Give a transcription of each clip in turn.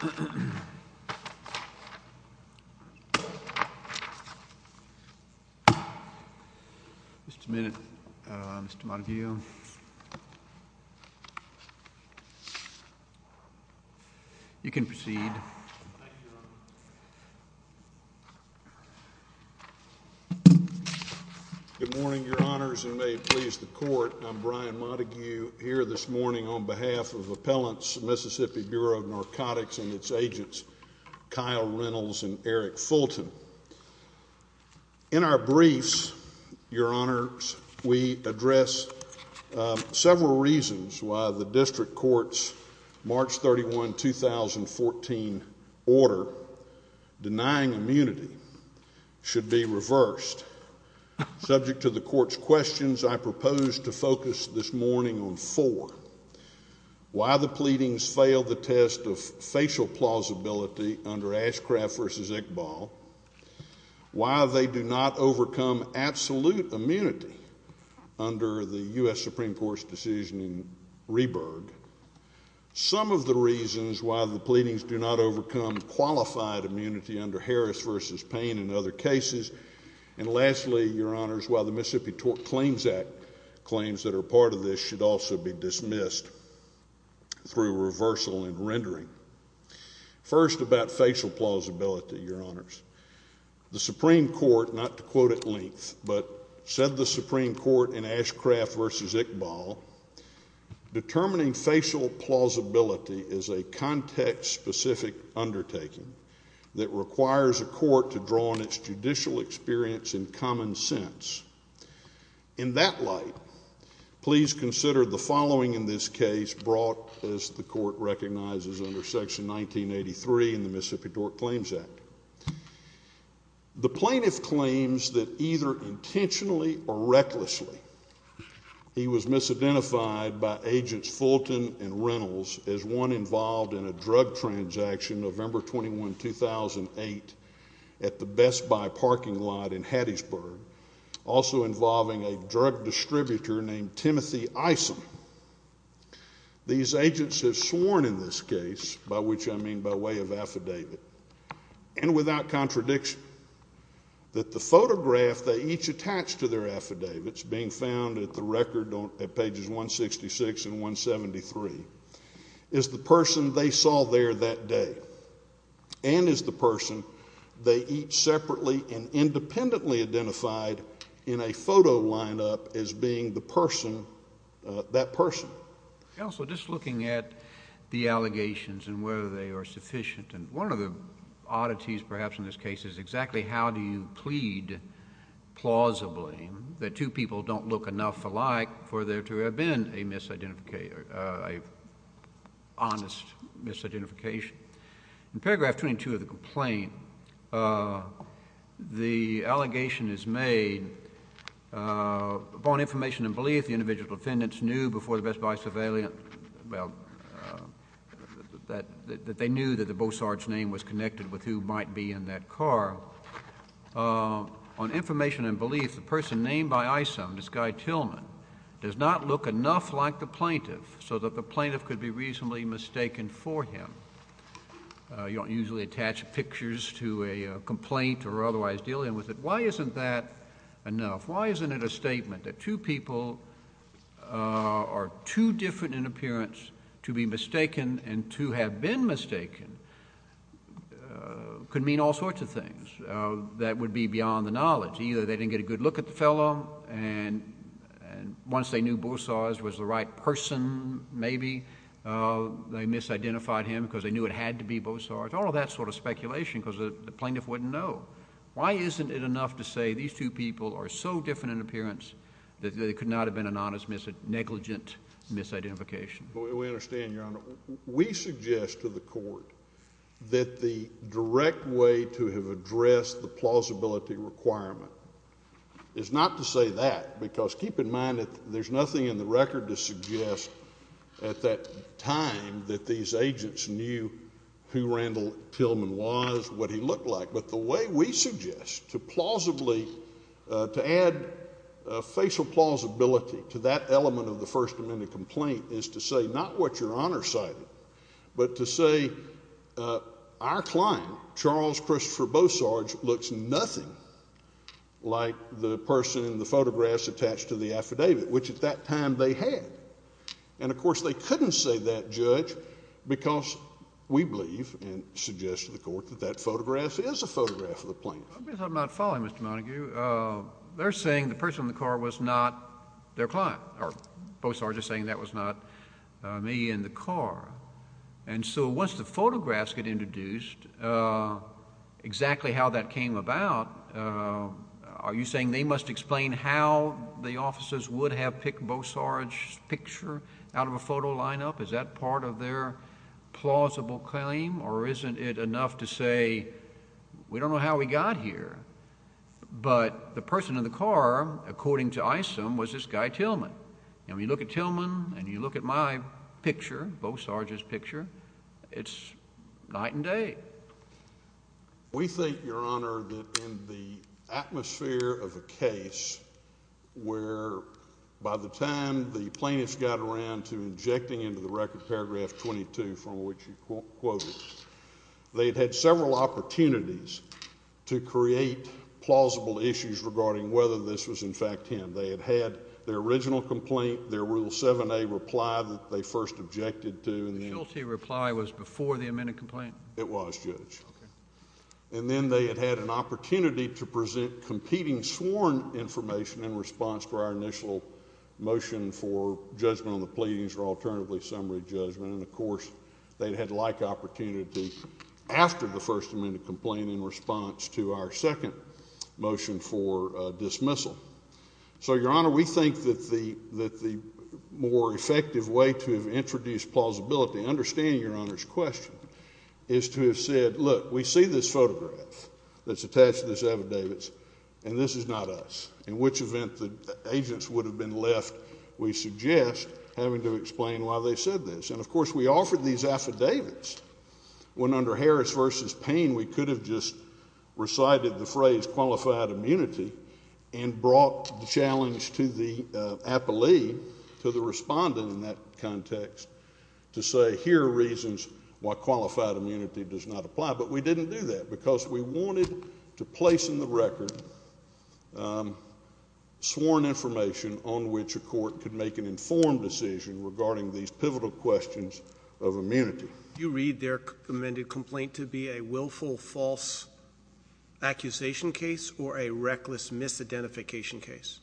Mr. Minute, Mr. Montague, you can proceed. Thank you, Your Honor. Good morning, Your Honors, and may it please the Court, I'm Brian Montague here this morning on behalf of Appellants, Mississippi Bureau of Narcotics and its agents, Kyle Reynolds and Eric Fulton. In our briefs, Your Honors, we address several reasons why the District Court's March 31, 2014 order denying immunity should be reversed. First, subject to the Court's questions, I propose to focus this morning on four. Why the pleadings fail the test of facial plausibility under Ashcraft v. Iqbal, why they do not overcome absolute immunity under the U.S. Supreme Court's decision in Rehberg, some of the reasons why the pleadings do not overcome qualified immunity under Harris v. Payne and other cases, and lastly, Your Honors, why the Mississippi Claims Act claims that are part of this should also be dismissed through reversal and rendering. First, about facial plausibility, Your Honors. The Supreme Court, not to quote at length, but said the Supreme Court in Ashcraft v. Iqbal, determining facial plausibility is a context-specific undertaking that requires a court to draw on its judicial experience and common sense. In that light, please consider the following in this case brought, as the Court recognizes, under Section 1983 in the Mississippi Court Claims Act. The plaintiff claims that either intentionally or recklessly, he was misidentified by Agents Fulton and Reynolds as one involved in a drug transaction, November 21, 2008, at the Best Buy parking lot in Hattiesburg, also involving a drug distributor named Timothy Isom. These agents have sworn in this case, by which I mean by way of affidavit, and without contradiction, that the photograph they each attached to their affidavits, being found at the record at pages 166 and 173, is the person they saw there that day, and is the person they each separately and independently identified in a photo lineup as being the person, that person. Counsel, just looking at the allegations and whether they are sufficient, and one of the oddities perhaps in this case is exactly how do you plead plausibly that two people don't look enough alike for there to have been a honest misidentification? In paragraph 22 of the complaint, the allegation is made, upon information and belief the individual defendants knew before the Best Buy surveillance, well, that they knew that the Beaux Arts name was connected with who might be in that car. On information and belief, the person named by Isom, this guy Tillman, does not look enough like the plaintiff so that the plaintiff could be reasonably mistaken for him. You don't usually attach pictures to a complaint or otherwise deal with it. Why isn't that enough? Why isn't it a statement that two people are too different in appearance to be mistaken and to have been mistaken? It could mean all sorts of things. That would be beyond the knowledge. Either they didn't get a good look at the fellow, and once they knew Beaux Arts was the right person, maybe, they misidentified him because they knew it had to be Beaux Arts. All of that sort of speculation because the plaintiff wouldn't know. Why isn't it enough to say these two people are so different in appearance that there could not have been an honest negligent misidentification? We understand, Your Honor. We suggest to the court that the direct way to have addressed the plausibility requirement is not to say that, because keep in mind that there's nothing in the record to suggest at that time that these agents knew who Randall Tillman was, what he looked like. But the way we suggest to plausibly add facial plausibility to that element of the First Amendment complaint is to say not what Your Honor cited, but to say our client, Charles Christopher Beaux Arts, looks nothing like the person in the photographs attached to the affidavit, which at that time they had. And, of course, they couldn't say that, Judge, because we believe and suggest to the court that that photograph is a photograph of the plaintiff. Let me talk about folly, Mr. Montague. They're saying the person in the car was not their client, or Beaux Arts is saying that was not me in the car. And so once the photographs get introduced, exactly how that came about, are you saying they must explain how the officers would have picked Beaux Arts' picture out of a photo lineup? Is that part of their plausible claim? Or isn't it enough to say we don't know how we got here, but the person in the car, according to ISIM, was this guy Tillman. And when you look at Tillman and you look at my picture, Beaux Arts' picture, it's night and day. We think, Your Honor, that in the atmosphere of a case where by the time the plaintiff got around to injecting into the record paragraph 22, from which you quoted, they had had several opportunities to create plausible issues regarding whether this was in fact him. They had had their original complaint, their Rule 7a reply that they first objected to. The guilty reply was before the amended complaint? It was, Judge. And then they had had an opportunity to present competing sworn information in response to our initial motion for judgment on the pleadings or alternatively summary judgment. And, of course, they had had like opportunity after the first amended complaint in response to our second motion for dismissal. So, Your Honor, we think that the more effective way to introduce plausibility and understand Your Honor's question is to have said, look, we see this photograph that's attached to these affidavits, and this is not us. In which event the agents would have been left, we suggest having to explain why they said this. And, of course, we offered these affidavits when under Harris v. Payne we could have just recited the phrase qualified immunity and brought the challenge to the appellee, to the respondent in that context, to say here are reasons why qualified immunity does not apply. But we didn't do that because we wanted to place in the record sworn information on which a court could make an informed decision regarding these pivotal questions of immunity. Do you read their amended complaint to be a willful false accusation case or a reckless misidentification case?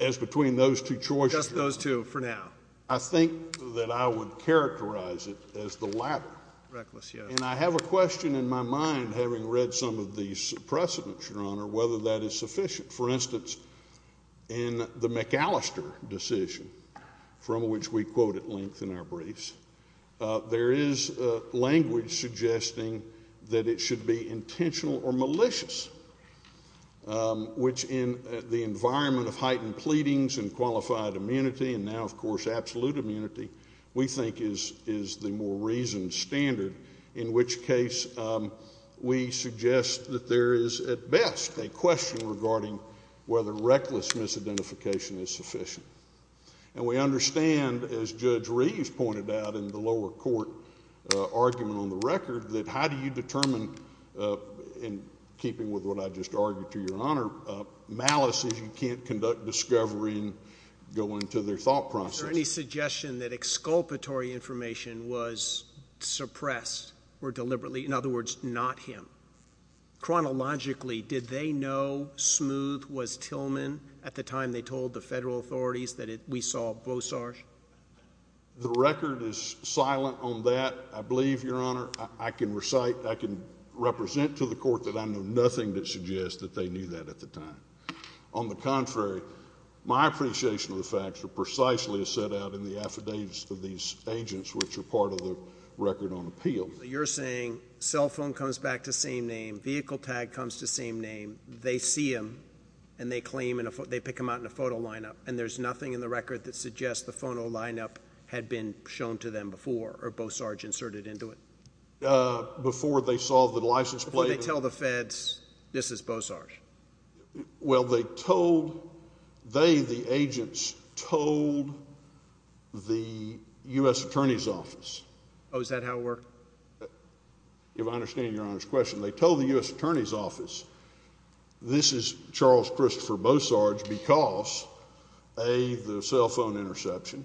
As between those two choices. Just those two for now. I think that I would characterize it as the latter. Reckless, yes. And I have a question in my mind having read some of these precedents, Your Honor, whether that is sufficient. For instance, in the McAllister decision, from which we quote at length in our briefs, there is language suggesting that it should be intentional or malicious, which in the environment of heightened pleadings and qualified immunity and now, of course, absolute immunity, we think is the more reasoned standard, in which case we suggest that there is, at best, a question regarding whether reckless misidentification is sufficient. And we understand, as Judge Reeves pointed out in the lower court argument on the record, that how do you determine, in keeping with what I just argued to Your Honor, malice is you can't conduct discovery and go into their thought process. Was there any suggestion that exculpatory information was suppressed or deliberately, in other words, not him? Chronologically, did they know Smooth was Tillman at the time they told the federal authorities that we saw Bosarge? The record is silent on that, I believe, Your Honor. I can recite, I can represent to the court that I know nothing that suggests that they knew that at the time. On the contrary, my appreciation of the facts are precisely as set out in the affidavits of these agents, which are part of the record on appeal. So you're saying cell phone comes back to same name, vehicle tag comes to same name, they see him and they claim and they pick him out in a photo lineup, and there's nothing in the record that suggests the photo lineup had been shown to them before or Bosarge inserted into it? Before they saw the license plate. Before they tell the feds this is Bosarge? Well, they told, they, the agents, told the U.S. Attorney's Office. Oh, is that how it worked? If I understand Your Honor's question, they told the U.S. Attorney's Office this is Charles Christopher Bosarge because A, the cell phone interception,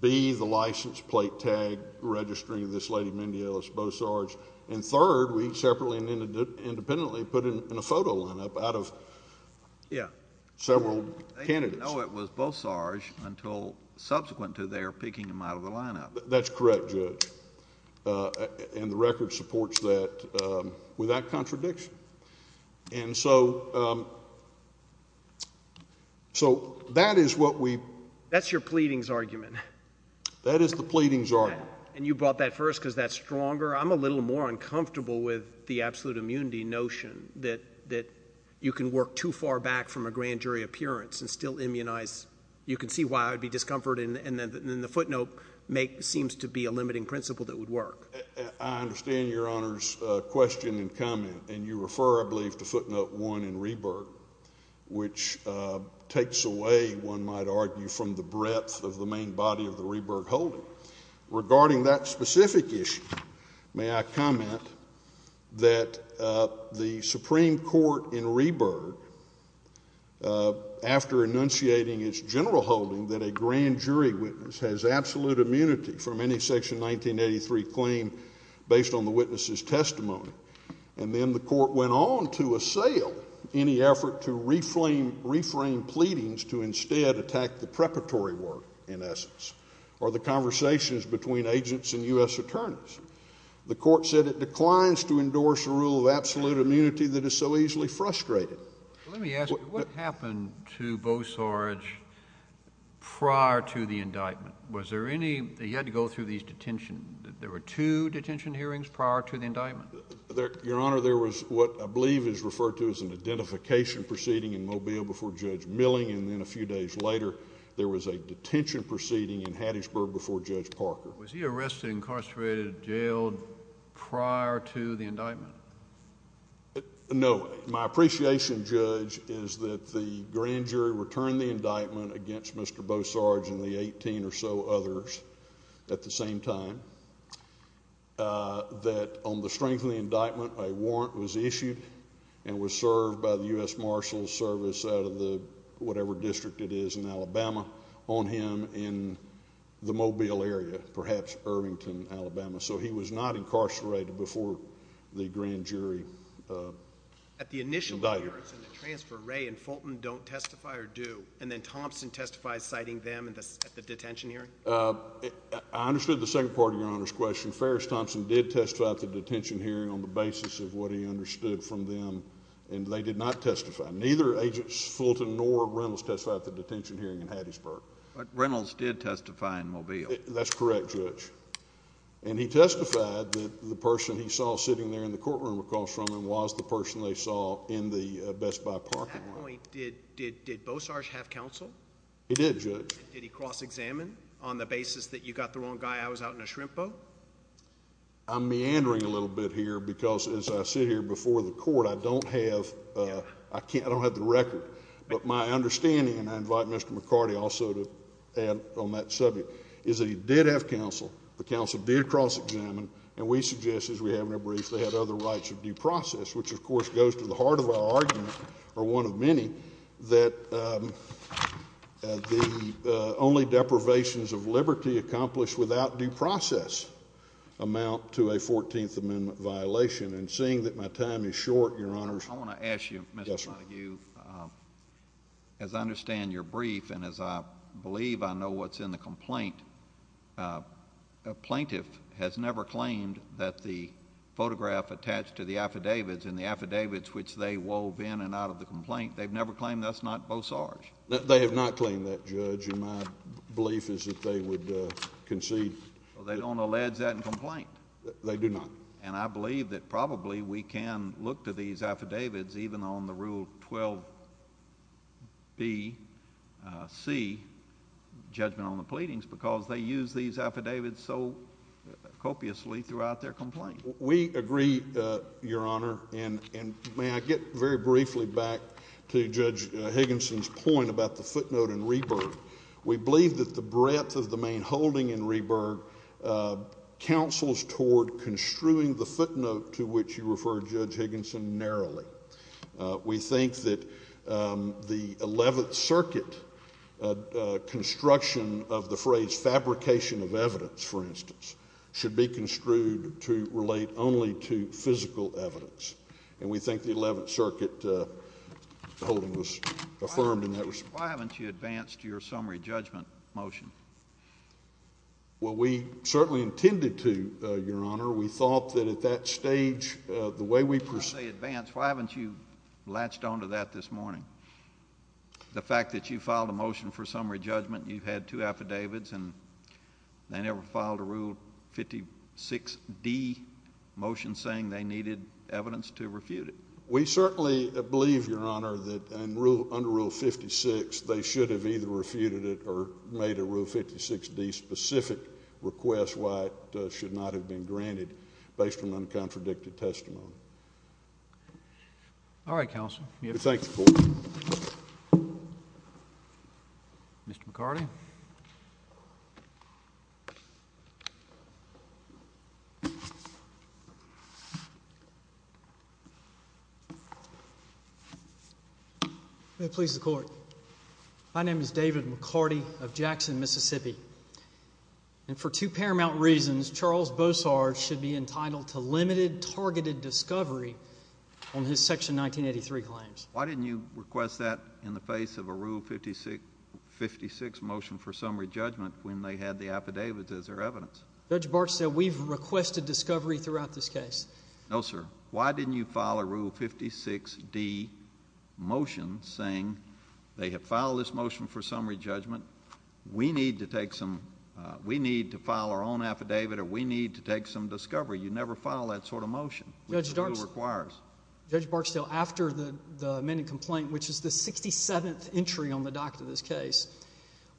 B, the license plate tag registering this lady Mindy Ellis Bosarge, and third, we separately and independently put in a photo lineup out of several candidates. They didn't know it was Bosarge until subsequent to their picking him out of the lineup. That's correct, Judge, and the record supports that with that contradiction. And so that is what we – That's your pleadings argument. That is the pleadings argument. And you brought that first because that's stronger. I'm a little more uncomfortable with the absolute immunity notion that you can work too far back from a grand jury appearance and still immunize. You can see why I would be discomforted, and then the footnote seems to be a limiting principle that would work. I understand Your Honor's question and comment, and you refer, I believe, to footnote one in Rieberg, which takes away, one might argue, from the breadth of the main body of the Rieberg holding. Regarding that specific issue, may I comment that the Supreme Court in Rieberg, after enunciating its general holding that a grand jury witness has absolute immunity from any Section 1983 claim based on the witness's testimony, and then the court went on to assail any effort to reframe pleadings to instead attack the preparatory work, in essence, or the conversations between agents and U.S. attorneys. The court said it declines to endorse a rule of absolute immunity that is so easily frustrated. Let me ask you, what happened to Bosarge prior to the indictment? Was there any—he had to go through these detention—there were two detention hearings prior to the indictment? Your Honor, there was what I believe is referred to as an identification proceeding in Mobile before Judge Milling, and then a few days later there was a detention proceeding in Hattiesburg before Judge Parker. Was he arrested, incarcerated, jailed prior to the indictment? No. My appreciation, Judge, is that the grand jury returned the indictment against Mr. Bosarge and the 18 or so others at the same time, that on the strength of the indictment a warrant was issued and was served by the U.S. Marshals Service out of the whatever district it is in Alabama on him in the Mobile area, perhaps Irvington, Alabama, so he was not incarcerated before the grand jury indicted him. At the initial hearings in the transfer, Ray and Fulton don't testify or do, and then Thompson testifies citing them at the detention hearing? I understood the second part of Your Honor's question. Ferris Thompson did testify at the detention hearing on the basis of what he understood from them, and they did not testify. Neither Agents Fulton nor Reynolds testified at the detention hearing in Hattiesburg. But Reynolds did testify in Mobile. That's correct, Judge, and he testified that the person he saw sitting there in the courtroom across from him was the person they saw in the Best Buy parking lot. At that point, did Bosarge have counsel? He did, Judge. Did he cross-examine on the basis that you got the wrong guy, I was out in a shrimp boat? I'm meandering a little bit here because as I sit here before the court, I don't have the record, but my understanding, and I invite Mr. McCarty also to add on that subject, is that he did have counsel, the counsel did cross-examine, and we suggest, as we have in our brief, that he had other rights of due process, which of course goes to the heart of our argument, or one of many, that the only deprivations of liberty accomplished without due process amount to a 14th Amendment violation. And seeing that my time is short, Your Honors, I want to ask you, Mr. Montague, as I understand your brief and as I believe I know what's in the complaint, a plaintiff has never claimed that the photograph attached to the affidavits and the affidavits which they wove in and out of the complaint, they've never claimed that's not Bosarge. They have not claimed that, Judge, and my belief is that they would concede. Well, they don't allege that in the complaint. They do not. And I believe that probably we can look to these affidavits even on the Rule 12bC, judgment on the pleadings, because they use these affidavits so copiously throughout their complaint. We agree, Your Honor, and may I get very briefly back to Judge Higginson's point about the footnote in Reburg. We believe that the breadth of the main holding in Reburg counsels toward construing the footnote to which you referred, Judge Higginson, narrowly. We think that the Eleventh Circuit construction of the phrase fabrication of evidence, for instance, should be construed to relate only to physical evidence, and we think the Eleventh Circuit holding was affirmed in that respect. Judge Higginson, why haven't you advanced your summary judgment motion? Well, we certainly intended to, Your Honor. We thought that at that stage the way we proceed... When I say advanced, why haven't you latched onto that this morning? The fact that you filed a motion for summary judgment, you've had two affidavits, and they never filed a Rule 56d motion saying they needed evidence to refute it. We certainly believe, Your Honor, that under Rule 56, they should have either refuted it or made a Rule 56d specific request why it should not have been granted based on uncontradicted testimony. All right, Counsel. We thank the Court. Mr. McCarty. May it please the Court. My name is David McCarty of Jackson, Mississippi, and for two paramount reasons, Charles Bossard should be entitled to limited targeted discovery on his Section 1983 claims. Why didn't you request that in the face of a Rule 56 motion for summary judgment when they had the affidavits as their evidence? Judge Bartlett said we've requested discovery throughout this case. No, sir. Why didn't you file a Rule 56d motion saying they have filed this motion for summary judgment, we need to file our own affidavit, or we need to take some discovery? You never file that sort of motion. Judge Barksdale, after the amended complaint, which is the 67th entry on the docket of this case,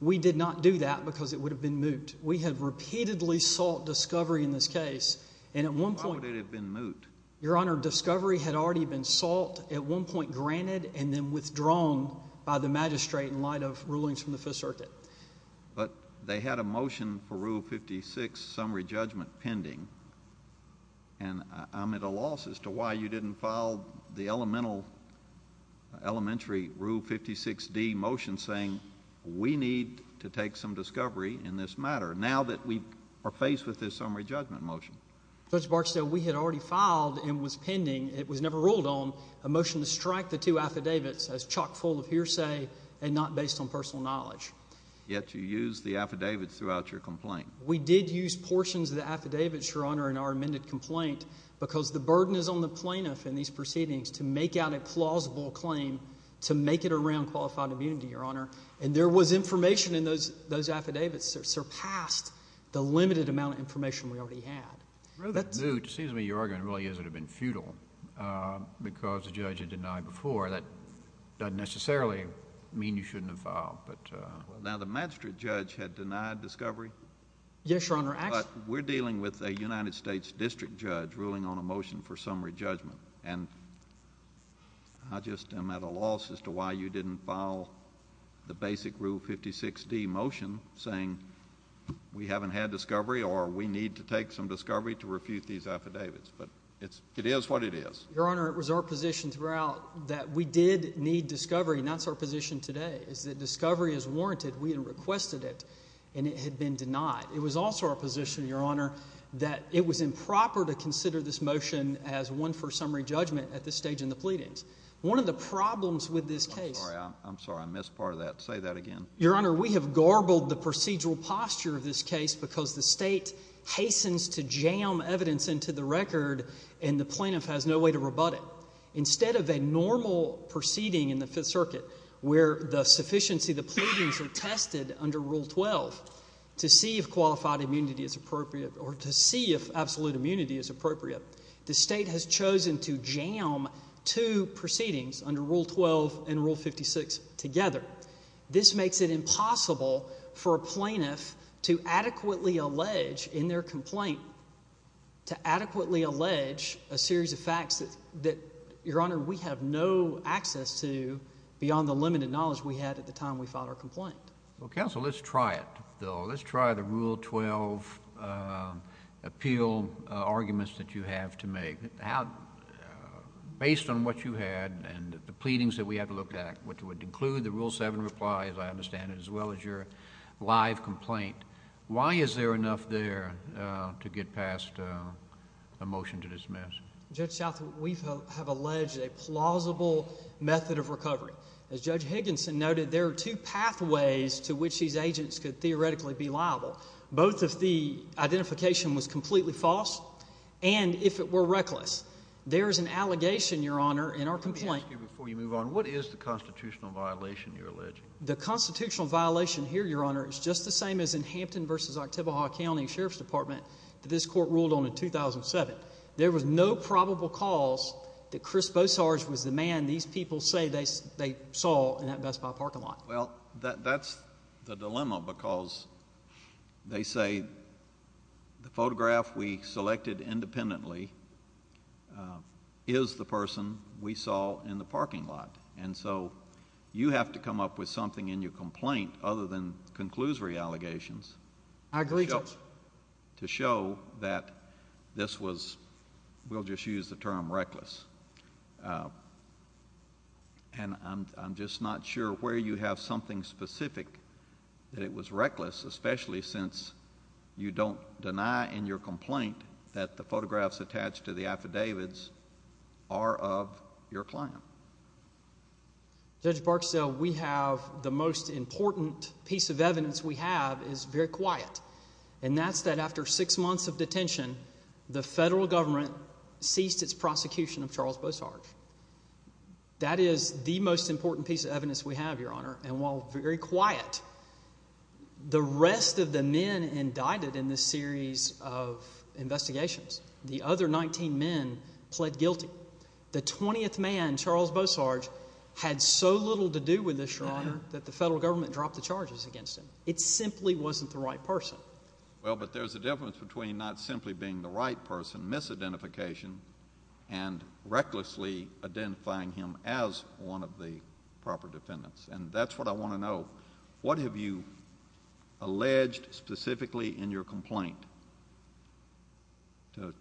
we did not do that because it would have been moot. We have repeatedly sought discovery in this case, and at one point... It would have been moot. Your Honor, discovery had already been sought at one point, granted, and then withdrawn by the magistrate in light of rulings from the Fifth Circuit. But they had a motion for Rule 56 summary judgment pending, and I'm at a loss as to why you didn't file the elementary Rule 56d motion saying we need to take some discovery in this matter now that we are faced with this summary judgment motion. Judge Barksdale, we had already filed and was pending, it was never ruled on, a motion to strike the two affidavits as chock full of hearsay and not based on personal knowledge. Yet you used the affidavits throughout your complaint. We did use portions of the affidavits, Your Honor, in our amended complaint because the burden is on the plaintiff in these proceedings to make out a plausible claim to make it around qualified immunity, Your Honor, and there was information in those affidavits that surpassed the limited amount of information we already had. It's rather moot. It seems to me your argument really is it would have been futile because the judge had denied before. That doesn't necessarily mean you shouldn't have filed. Now, the magistrate judge had denied discovery. Yes, Your Honor. But we're dealing with a United States district judge ruling on a motion for summary judgment, and I just am at a loss as to why you didn't file the basic Rule 56D motion saying we haven't had discovery or we need to take some discovery to refute these affidavits. But it is what it is. Your Honor, it was our position throughout that we did need discovery, and that's our position today, is that discovery is warranted. We had requested it, and it had been denied. It was also our position, Your Honor, that it was improper to consider this motion as one for summary judgment at this stage in the pleadings. One of the problems with this case— I'm sorry. I missed part of that. Say that again. Your Honor, we have garbled the procedural posture of this case because the state hastens to jam evidence into the record, and the plaintiff has no way to rebut it. Instead of a normal proceeding in the Fifth Circuit where the sufficiency of the pleadings are tested under Rule 12 to see if qualified immunity is appropriate or to see if absolute immunity is appropriate, the state has chosen to jam two proceedings under Rule 12 and Rule 56 together. This makes it impossible for a plaintiff to adequately allege in their complaint, to adequately allege a series of facts that, Your Honor, we have no access to beyond the limited knowledge we had at the time we filed our complaint. Well, counsel, let's try it, though. Let's try the Rule 12 appeal arguments that you have to make. Based on what you had and the pleadings that we had to look at, which would include the Rule 7 reply, as I understand it, as well as your live complaint, why is there enough there to get past a motion to dismiss? Judge Southwood, we have alleged a plausible method of recovery. As Judge Higginson noted, there are two pathways to which these agents could theoretically be liable, both if the identification was completely false and if it were reckless. There is an allegation, Your Honor, in our complaint. Let me ask you before you move on, what is the constitutional violation you're alleging? The constitutional violation here, Your Honor, is just the same as in Hampton v. Oktibbeha County Sheriff's Department that this court ruled on in 2007. There was no probable cause that Chris Bosarge was the man these people say they saw in that Best Buy parking lot. Well, that's the dilemma because they say the photograph we selected independently is the person we saw in the parking lot. And so you have to come up with something in your complaint other than conclusory allegations to show that this was, we'll just use the term reckless, and I'm just not sure where you have something specific that it was reckless, especially since you don't deny in your complaint that the photographs attached to the affidavits are of your client. Judge Barksdale, we have the most important piece of evidence we have is very quiet, and that's that after six months of detention, the federal government ceased its prosecution of Charles Bosarge. That is the most important piece of evidence we have, Your Honor, and while very quiet, the rest of the men indicted in this series of investigations, the other 19 men, pled guilty. The 20th man, Charles Bosarge, had so little to do with this, Your Honor, that the federal government dropped the charges against him. It simply wasn't the right person. Well, but there's a difference between not simply being the right person, misidentification, and recklessly identifying him as one of the proper defendants, and that's what I want to know. What have you alleged specifically in your complaint to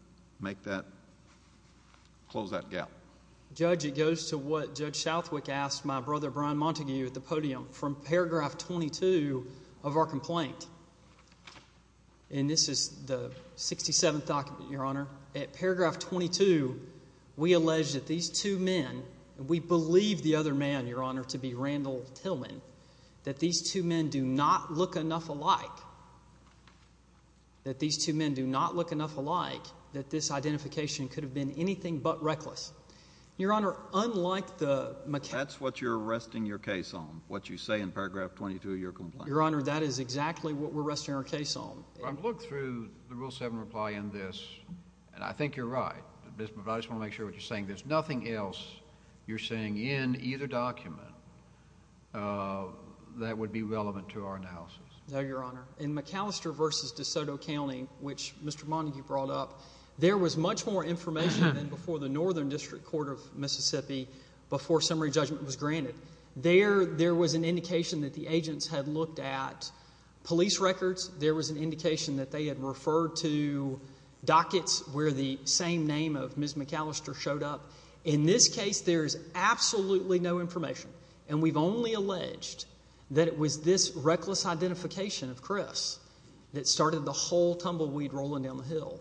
close that gap? Judge, it goes to what Judge Southwick asked my brother Brian Montague at the podium from paragraph 22 of our complaint, and this is the 67th document, Your Honor. At paragraph 22, we allege that these two men, and we believe the other man, Your Honor, to be Randall Tillman, that these two men do not look enough alike, that these two men do not look enough alike, that this identification could have been anything but reckless. Your Honor, unlike the macaque— That's what you're arresting your case on, what you say in paragraph 22 of your complaint. Your Honor, that is exactly what we're arresting our case on. Look through the Rule 7 reply in this, and I think you're right. But I just want to make sure what you're saying. There's nothing else you're saying in either document that would be relevant to our analysis. No, Your Honor. In McAllister v. DeSoto County, which Mr. Montague brought up, there was much more information than before the Northern District Court of Mississippi before summary judgment was granted. There was an indication that the agents had looked at police records. There was an indication that they had referred to dockets where the same name of Ms. McAllister showed up. In this case, there is absolutely no information, and we've only alleged that it was this reckless identification of Chris that started the whole tumbleweed rolling down the hill.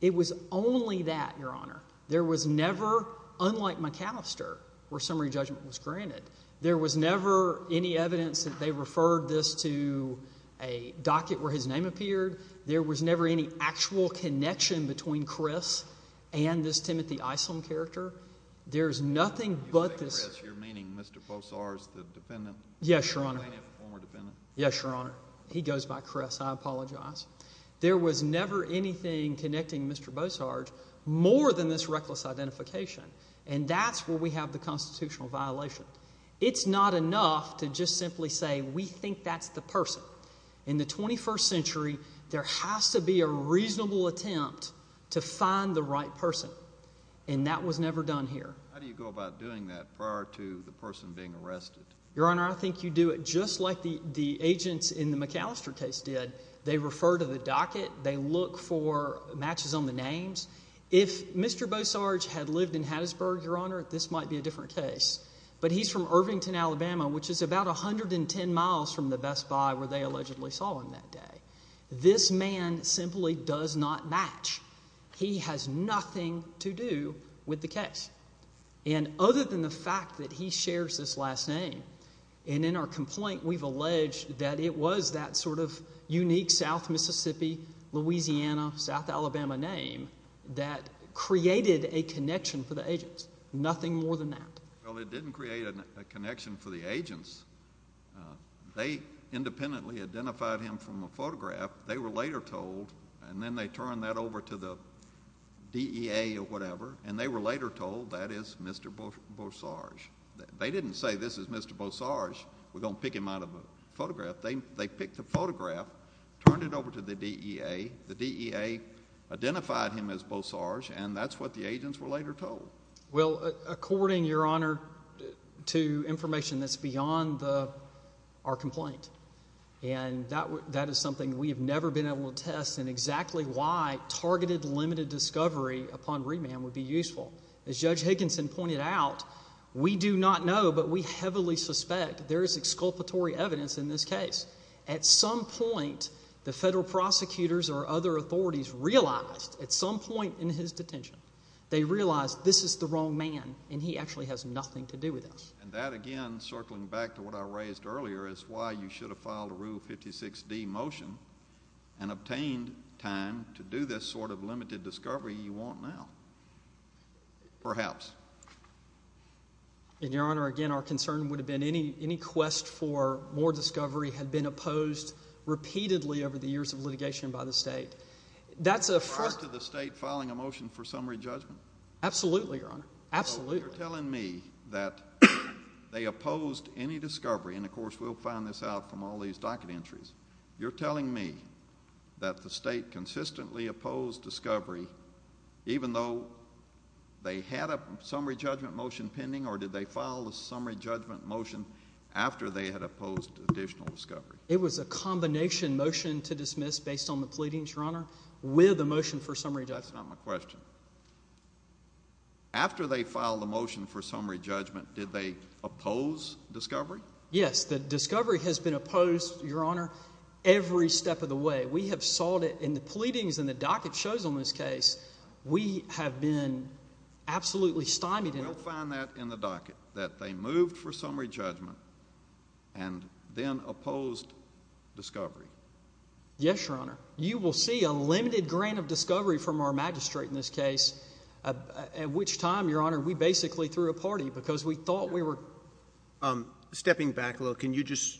It was only that, Your Honor. There was never, unlike McAllister, where summary judgment was granted, there was never any evidence that they referred this to a docket where his name appeared. There was never any actual connection between Chris and this Timothy Islam character. There is nothing but this— You think Chris, you're meaning Mr. Bosarge, the defendant? Yes, Your Honor. The plaintiff, the former defendant? Yes, Your Honor. He goes by Chris. I apologize. There was never anything connecting Mr. Bosarge more than this reckless identification, and that's where we have the constitutional violation. It's not enough to just simply say we think that's the person. In the 21st century, there has to be a reasonable attempt to find the right person, and that was never done here. How do you go about doing that prior to the person being arrested? Your Honor, I think you do it just like the agents in the McAllister case did. They refer to the docket. They look for matches on the names. If Mr. Bosarge had lived in Hattiesburg, Your Honor, this might be a different case. But he's from Irvington, Alabama, which is about 110 miles from the Best Buy where they allegedly saw him that day. This man simply does not match. He has nothing to do with the case. And other than the fact that he shares this last name, and in our complaint we've alleged that it was that sort of unique South Mississippi, Louisiana, South Alabama name that created a connection for the agents, nothing more than that. Well, it didn't create a connection for the agents. They independently identified him from a photograph. They were later told, and then they turned that over to the DEA or whatever, and they were later told that is Mr. Bosarge. They didn't say this is Mr. Bosarge. We're going to pick him out of a photograph. They picked the photograph, turned it over to the DEA. The DEA identified him as Bosarge, and that's what the agents were later told. Well, according, Your Honor, to information that's beyond our complaint, and that is something we have never been able to test, and exactly why targeted limited discovery upon remand would be useful. As Judge Higginson pointed out, we do not know, but we heavily suspect there is exculpatory evidence in this case. At some point, the federal prosecutors or other authorities realized, at some point in his detention, they realized this is the wrong man, and he actually has nothing to do with this. And that, again, circling back to what I raised earlier, is why you should have filed a Rule 56D motion and obtained time to do this sort of limited discovery you want now. Perhaps. And, Your Honor, again, our concern would have been any quest for more discovery had been opposed repeatedly over the years of litigation by the state. That's a first. Are you referring to the state filing a motion for summary judgment? Absolutely, Your Honor. Absolutely. So you're telling me that they opposed any discovery, and, of course, we'll find this out from all these docket entries. You're telling me that the state consistently opposed discovery even though they had a summary judgment motion pending, or did they file a summary judgment motion after they had opposed additional discovery? It was a combination motion to dismiss based on the pleadings, Your Honor, with a motion for summary judgment. That's not my question. After they filed the motion for summary judgment, did they oppose discovery? Yes. The discovery has been opposed, Your Honor, every step of the way. We have sought it in the pleadings and the docket shows on this case. We have been absolutely stymied in it. We'll find that in the docket, that they moved for summary judgment and then opposed discovery. Yes, Your Honor. You will see a limited grant of discovery from our magistrate in this case, at which time, Your Honor, we basically threw a party because we thought we were... Stepping back a little, can you just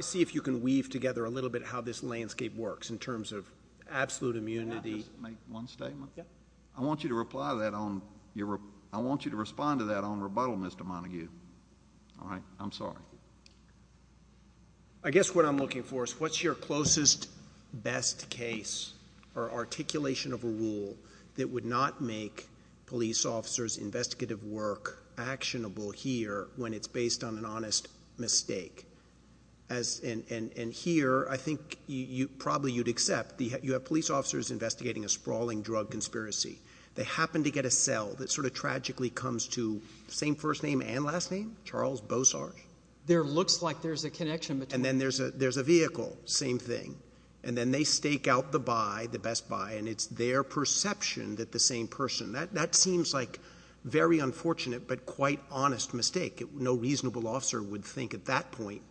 see if you can weave together a little bit how this landscape works in terms of absolute immunity? May I just make one statement? Yes. I want you to respond to that on rebuttal, Mr. Montague. All right? I'm sorry. I guess what I'm looking for is what's your closest best case or articulation of a rule that would not make police officers' investigative work actionable here when it's based on an honest mistake? And here, I think probably you'd accept, you have police officers investigating a sprawling drug conspiracy. They happen to get a cell that sort of tragically comes to the same first name and last name, Charles Bosarge. There looks like there's a connection between... And then there's a vehicle, same thing. And then they stake out the buy, the best buy, and it's their perception that the same person... That seems like a very unfortunate but quite honest mistake. No reasonable officer would think at that point.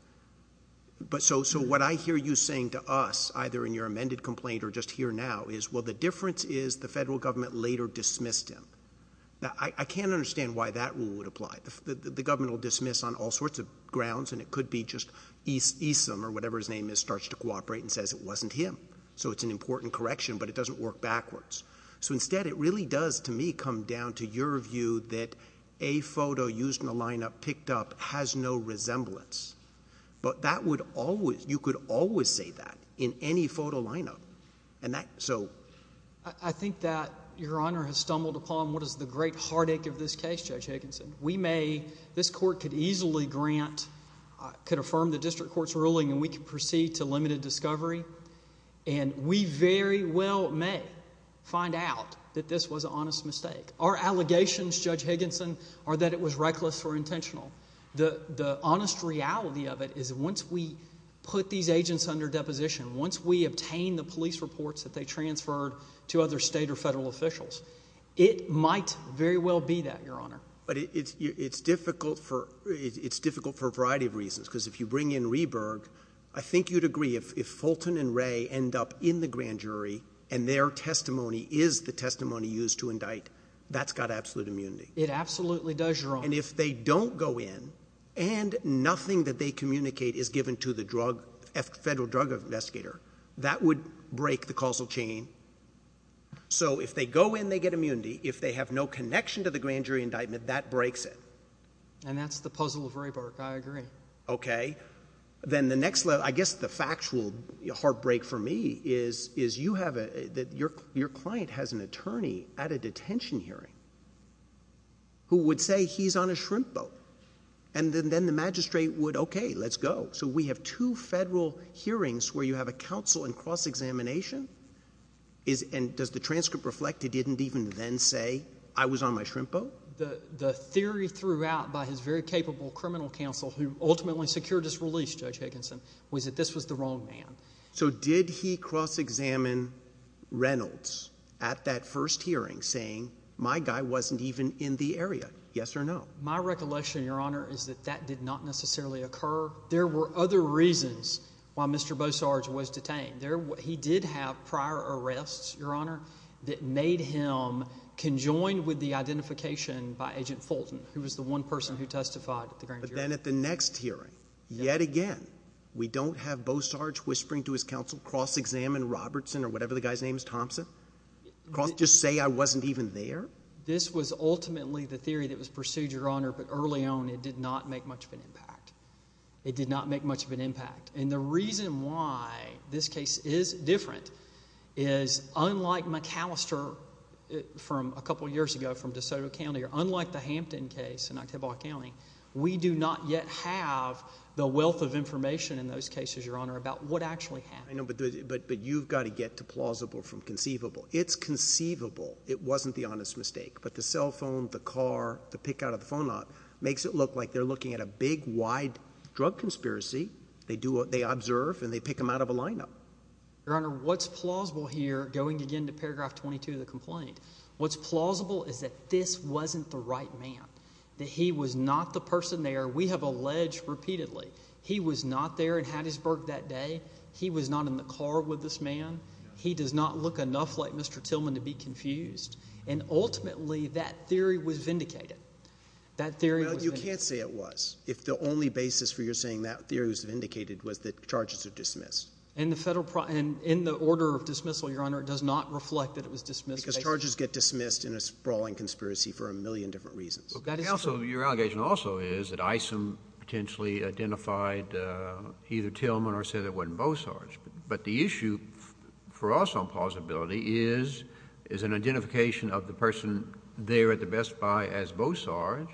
So what I hear you saying to us, either in your amended complaint or just here now, is, well, the difference is the federal government later dismissed him. Now, I can't understand why that rule would apply. The government will dismiss on all sorts of grounds, and it could be just Esom or whatever his name is starts to cooperate and says it wasn't him. So it's an important correction, but it doesn't work backwards. So instead, it really does, to me, come down to your view that a photo used in a lineup, picked up, has no resemblance. But that would always... you could always say that in any photo lineup. And that... so... I think that Your Honor has stumbled upon what is the great heartache of this case, Judge Higginson. We may... this court could easily grant... could affirm the district court's ruling, and we could proceed to limited discovery. And we very well may find out that this was an honest mistake. Our allegations, Judge Higginson, are that it was reckless or intentional. The honest reality of it is once we put these agents under deposition, once we obtain the police reports that they transferred to other state or federal officials, it might very well be that, Your Honor. But it's difficult for a variety of reasons, because if you bring in Rehberg, I think you'd agree if Fulton and Ray end up in the grand jury, and their testimony is the testimony used to indict, that's got absolute immunity. It absolutely does, Your Honor. And if they don't go in, and nothing that they communicate is given to the drug... federal drug investigator, that would break the causal chain. So if they go in, they get immunity. If they have no connection to the grand jury indictment, that breaks it. And that's the puzzle of Rehberg. I agree. Okay. Then the next level, I guess the factual heartbreak for me is you have a... your client has an attorney at a detention hearing who would say he's on a shrimp boat. And then the magistrate would, okay, let's go. So we have two federal hearings where you have a counsel in cross-examination. And does the transcript reflect he didn't even then say, I was on my shrimp boat? The theory throughout by his very capable criminal counsel, who ultimately secured his release, Judge Higginson, was that this was the wrong man. So did he cross-examine Reynolds at that first hearing saying, my guy wasn't even in the area? Yes or no? My recollection, Your Honor, is that that did not necessarily occur. There were other reasons why Mr. Bossard was detained. He did have prior arrests, Your Honor, that made him conjoined with the identification by Agent Fulton, who was the one person who testified at the grand jury. But then at the next hearing, yet again, we don't have Bossard whispering to his counsel, cross-examine Robertson or whatever the guy's name is, Thompson. Just say I wasn't even there? This was ultimately the theory that was pursued, Your Honor, but early on it did not make much of an impact. It did not make much of an impact. And the reason why this case is different is unlike McAllister from a couple years ago from DeSoto County or unlike the Hampton case in Octobock County, we do not yet have the wealth of information in those cases, Your Honor, about what actually happened. But you've got to get to plausible from conceivable. It's conceivable it wasn't the honest mistake, but the cell phone, the car, the pick out of the phone lot makes it look like they're looking at a big, wide drug conspiracy. They observe and they pick them out of a lineup. Your Honor, what's plausible here, going again to paragraph 22 of the complaint, what's plausible is that this wasn't the right man, that he was not the person there. We have alleged repeatedly he was not there in Hattiesburg that day. He was not in the car with this man. He does not look enough like Mr. Tillman to be confused. And ultimately that theory was vindicated. You can't say it was if the only basis for your saying that theory was vindicated was that charges are dismissed. In the order of dismissal, Your Honor, it does not reflect that it was dismissed. Because charges get dismissed in a sprawling conspiracy for a million different reasons. Your allegation also is that Isom potentially identified either Tillman or said it wasn't Bosarge. But the issue for us on plausibility is an identification of the person there at the Best Buy as Bosarge,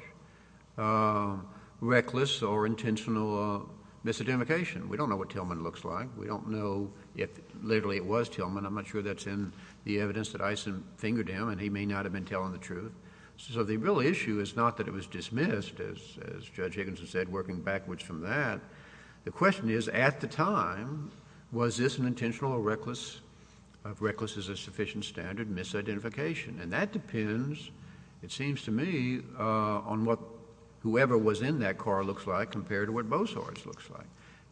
reckless or intentional misidentification. We don't know what Tillman looks like. We don't know if literally it was Tillman. I'm not sure that's in the evidence that Isom fingered him, and he may not have been telling the truth. So the real issue is not that it was dismissed, as Judge Higginson said, working backwards from that. The question is, at the time, was this an intentional or reckless? If reckless is a sufficient standard, misidentification. And that depends, it seems to me, on what whoever was in that car looks like compared to what Bosarge looks like.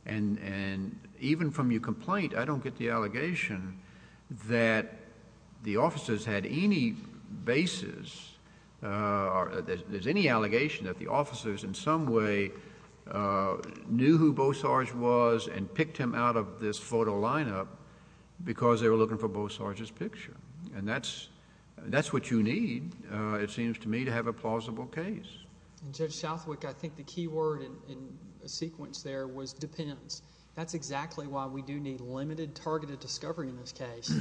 And even from your complaint, I don't get the allegation that the officers had any basis, or there's any allegation that the officers in some way knew who Bosarge was and picked him out of this photo lineup because they were looking for Bosarge's picture. And that's what you need, it seems to me, to have a plausible case. Judge Southwick, I think the key word in the sequence there was depends. That's exactly why we do need limited targeted discovery in this case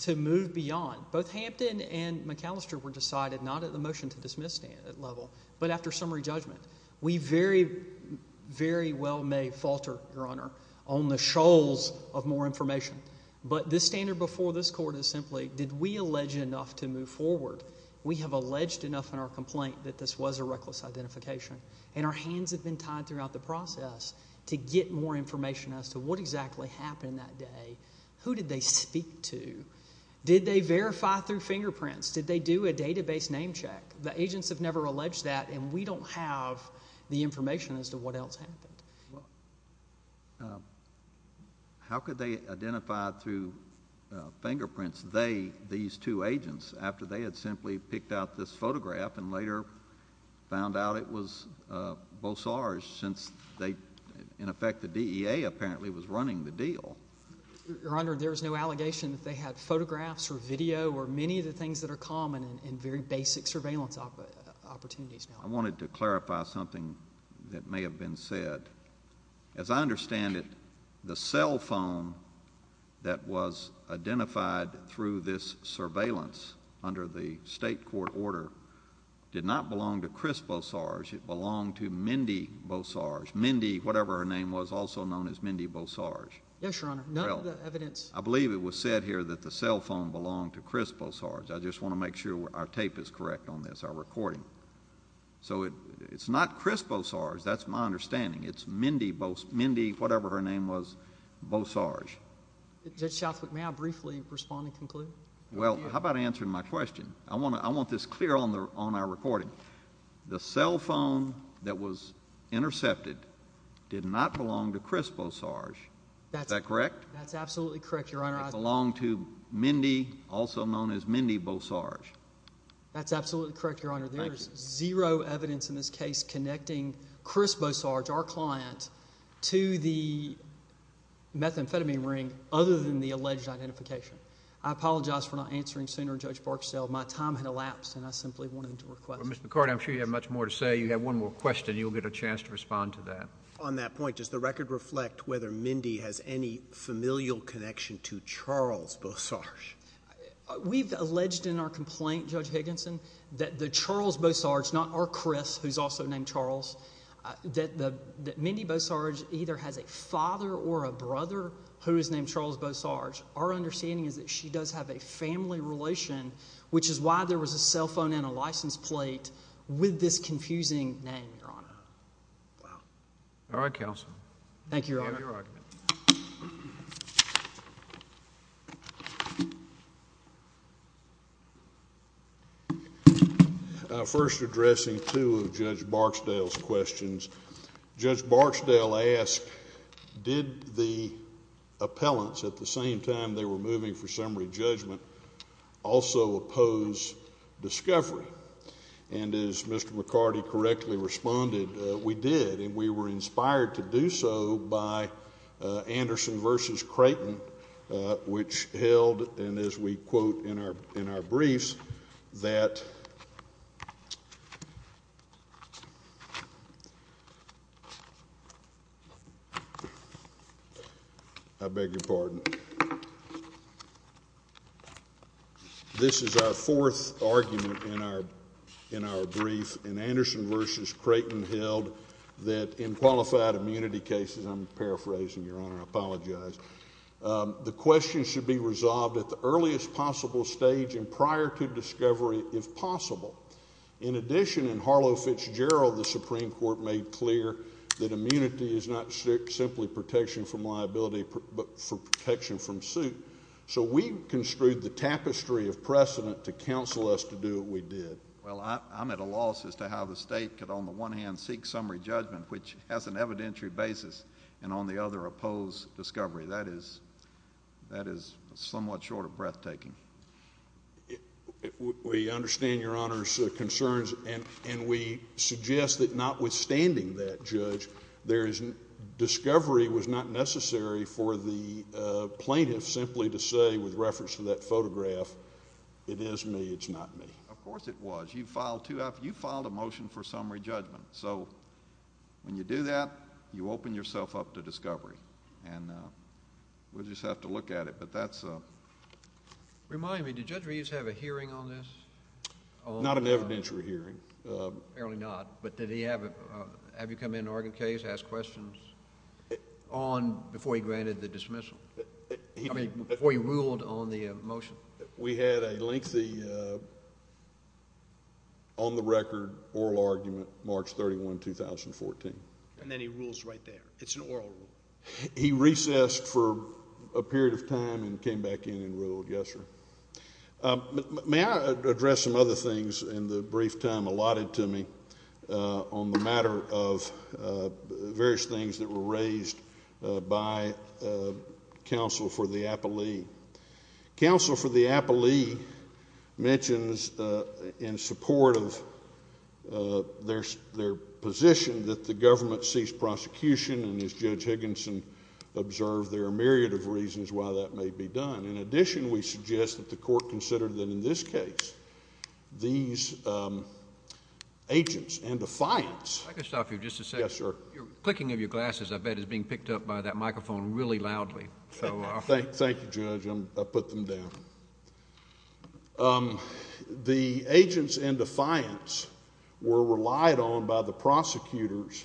to move beyond. Both Hampton and McAllister were decided not at the motion-to-dismiss level, but after summary judgment. We very, very well may falter, Your Honor, on the shoals of more information. But the standard before this Court is simply, did we allege enough to move forward? We have alleged enough in our complaint that this was a reckless identification, and our hands have been tied throughout the process to get more information as to what exactly happened that day, who did they speak to, did they verify through fingerprints, did they do a database name check. The agents have never alleged that, and we don't have the information as to what else happened. How could they identify through fingerprints these two agents after they had simply picked out this photograph and later found out it was Bosarge since they, in effect, the DEA apparently was running the deal. Your Honor, there is no allegation that they had photographs or video or many of the things that are common in very basic surveillance opportunities. I wanted to clarify something that may have been said. As I understand it, the cell phone that was identified through this surveillance under the state court order did not belong to Chris Bosarge. It belonged to Mindy Bosarge. Mindy, whatever her name was, also known as Mindy Bosarge. Yes, Your Honor. None of the evidence. I believe it was said here that the cell phone belonged to Chris Bosarge. I just want to make sure our tape is correct on this, our recording. So it's not Chris Bosarge. That's my understanding. It's Mindy, whatever her name was, Bosarge. Judge Southwick, may I briefly respond and conclude? Well, how about answering my question? I want this clear on our recording. The cell phone that was intercepted did not belong to Chris Bosarge. Is that correct? That's absolutely correct, Your Honor. It belonged to Mindy, also known as Mindy Bosarge. That's absolutely correct, Your Honor. There is zero evidence in this case connecting Chris Bosarge, our client, to the methamphetamine ring other than the alleged identification. I apologize for not answering sooner, Judge Barksdale. My time had elapsed, and I simply wanted to request it. Well, Mr. McCarty, I'm sure you have much more to say. You have one more question, and you'll get a chance to respond to that. On that point, does the record reflect whether Mindy has any familial connection to Charles Bosarge? We've alleged in our complaint, Judge Higginson, that the Charles Bosarge, not our Chris, who's also named Charles, that Mindy Bosarge either has a father or a brother who is named Charles Bosarge. Our understanding is that she does have a family relation, which is why there was a cell phone and a license plate with this confusing name, Your Honor. All right, counsel. Thank you, Your Honor. You have your argument. First, addressing two of Judge Barksdale's questions, Judge Barksdale asked, did the appellants at the same time they were moving for summary judgment also oppose discovery? And as Mr. McCarty correctly responded, we did, and we were inspired to do so by Anderson v. Creighton, which held, and as we quote in our briefs, that, I beg your pardon, this is our fourth argument in our brief, and Anderson v. Creighton held that in qualified immunity cases, I'm paraphrasing, Your Honor, I apologize. The question should be resolved at the earliest possible stage and prior to discovery, if possible. In addition, in Harlow Fitzgerald, the Supreme Court made clear that immunity is not simply protection from liability, but for protection from suit. So we construed the tapestry of precedent to counsel us to do what we did. Well, I'm at a loss as to how the State could, on the one hand, seek summary judgment, which has an evidentiary basis, and on the other, oppose discovery. That is somewhat short of breathtaking. We understand Your Honor's concerns, and we suggest that notwithstanding that, Judge, discovery was not necessary for the plaintiff simply to say with reference to that photograph, it is me, it's not me. Of course it was. You filed a motion for summary judgment. So when you do that, you open yourself up to discovery. And we'll just have to look at it, but that's... Remind me, did Judge Reeves have a hearing on this? Not an evidentiary hearing. Apparently not. But did he have you come in to argue the case, ask questions on, before he granted the dismissal? I mean, before he ruled on the motion. We had a lengthy, on-the-record oral argument, March 31, 2014. And then he rules right there. It's an oral rule. He recessed for a period of time and came back in and ruled, yes, sir. May I address some other things in the brief time allotted to me on the matter of various things that were raised by counsel for the appellee? Counsel for the appellee mentions in support of their position that the government cease prosecution, and as Judge Higginson observed, there are a myriad of reasons why that may be done. In addition, we suggest that the court consider that in this case, these agents and defiants... If I could stop you just a second. Yes, sir. The clicking of your glasses, I bet, is being picked up by that microphone really loudly. So... Thank you, Judge. I'll put them down. The agents and defiants were relied on by the prosecutors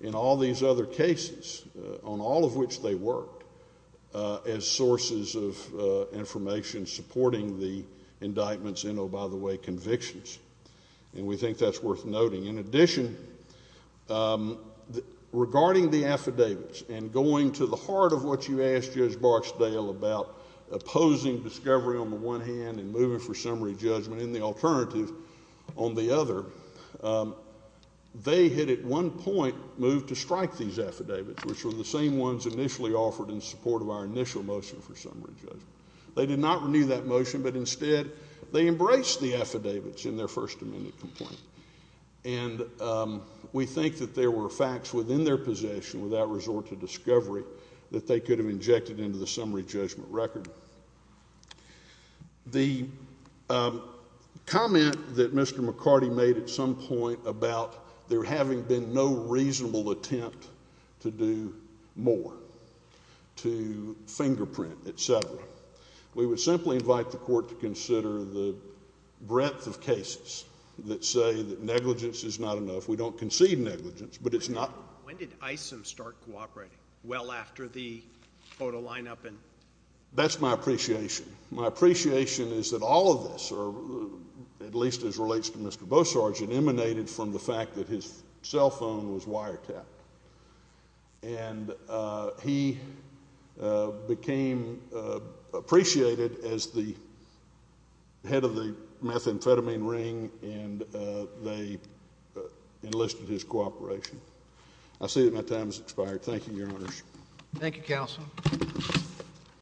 in all these other cases, on all of which they worked, as sources of information supporting the indictments and, oh, by the way, convictions. And we think that's worth noting. In addition, regarding the affidavits and going to the heart of what you asked Judge Barksdale about opposing discovery on the one hand and moving for summary judgment in the alternative on the other, they had at one point moved to strike these affidavits, which were the same ones initially offered in support of our initial motion for summary judgment. They did not renew that motion, but instead, they embraced the affidavits in their First Amendment complaint. And we think that there were facts within their possession without resort to discovery that they could have injected into the summary judgment record. The comment that Mr. McCarty made at some point about there having been no reasonable attempt to do more, to fingerprint, et cetera, we would simply invite the court to consider the breadth of cases that say that negligence is not enough. We don't concede negligence, but it's not. When did Isom start cooperating? Well after the photo lineup and? That's my appreciation. My appreciation is that all of this, or at least as relates to Mr. Beausargent, emanated from the fact that his cell phone was wiretapped. And he became appreciated as the head of the methamphetamine ring, and they enlisted his cooperation. I see that my time has expired. Thank you, Your Honors. Thank you, Counsel.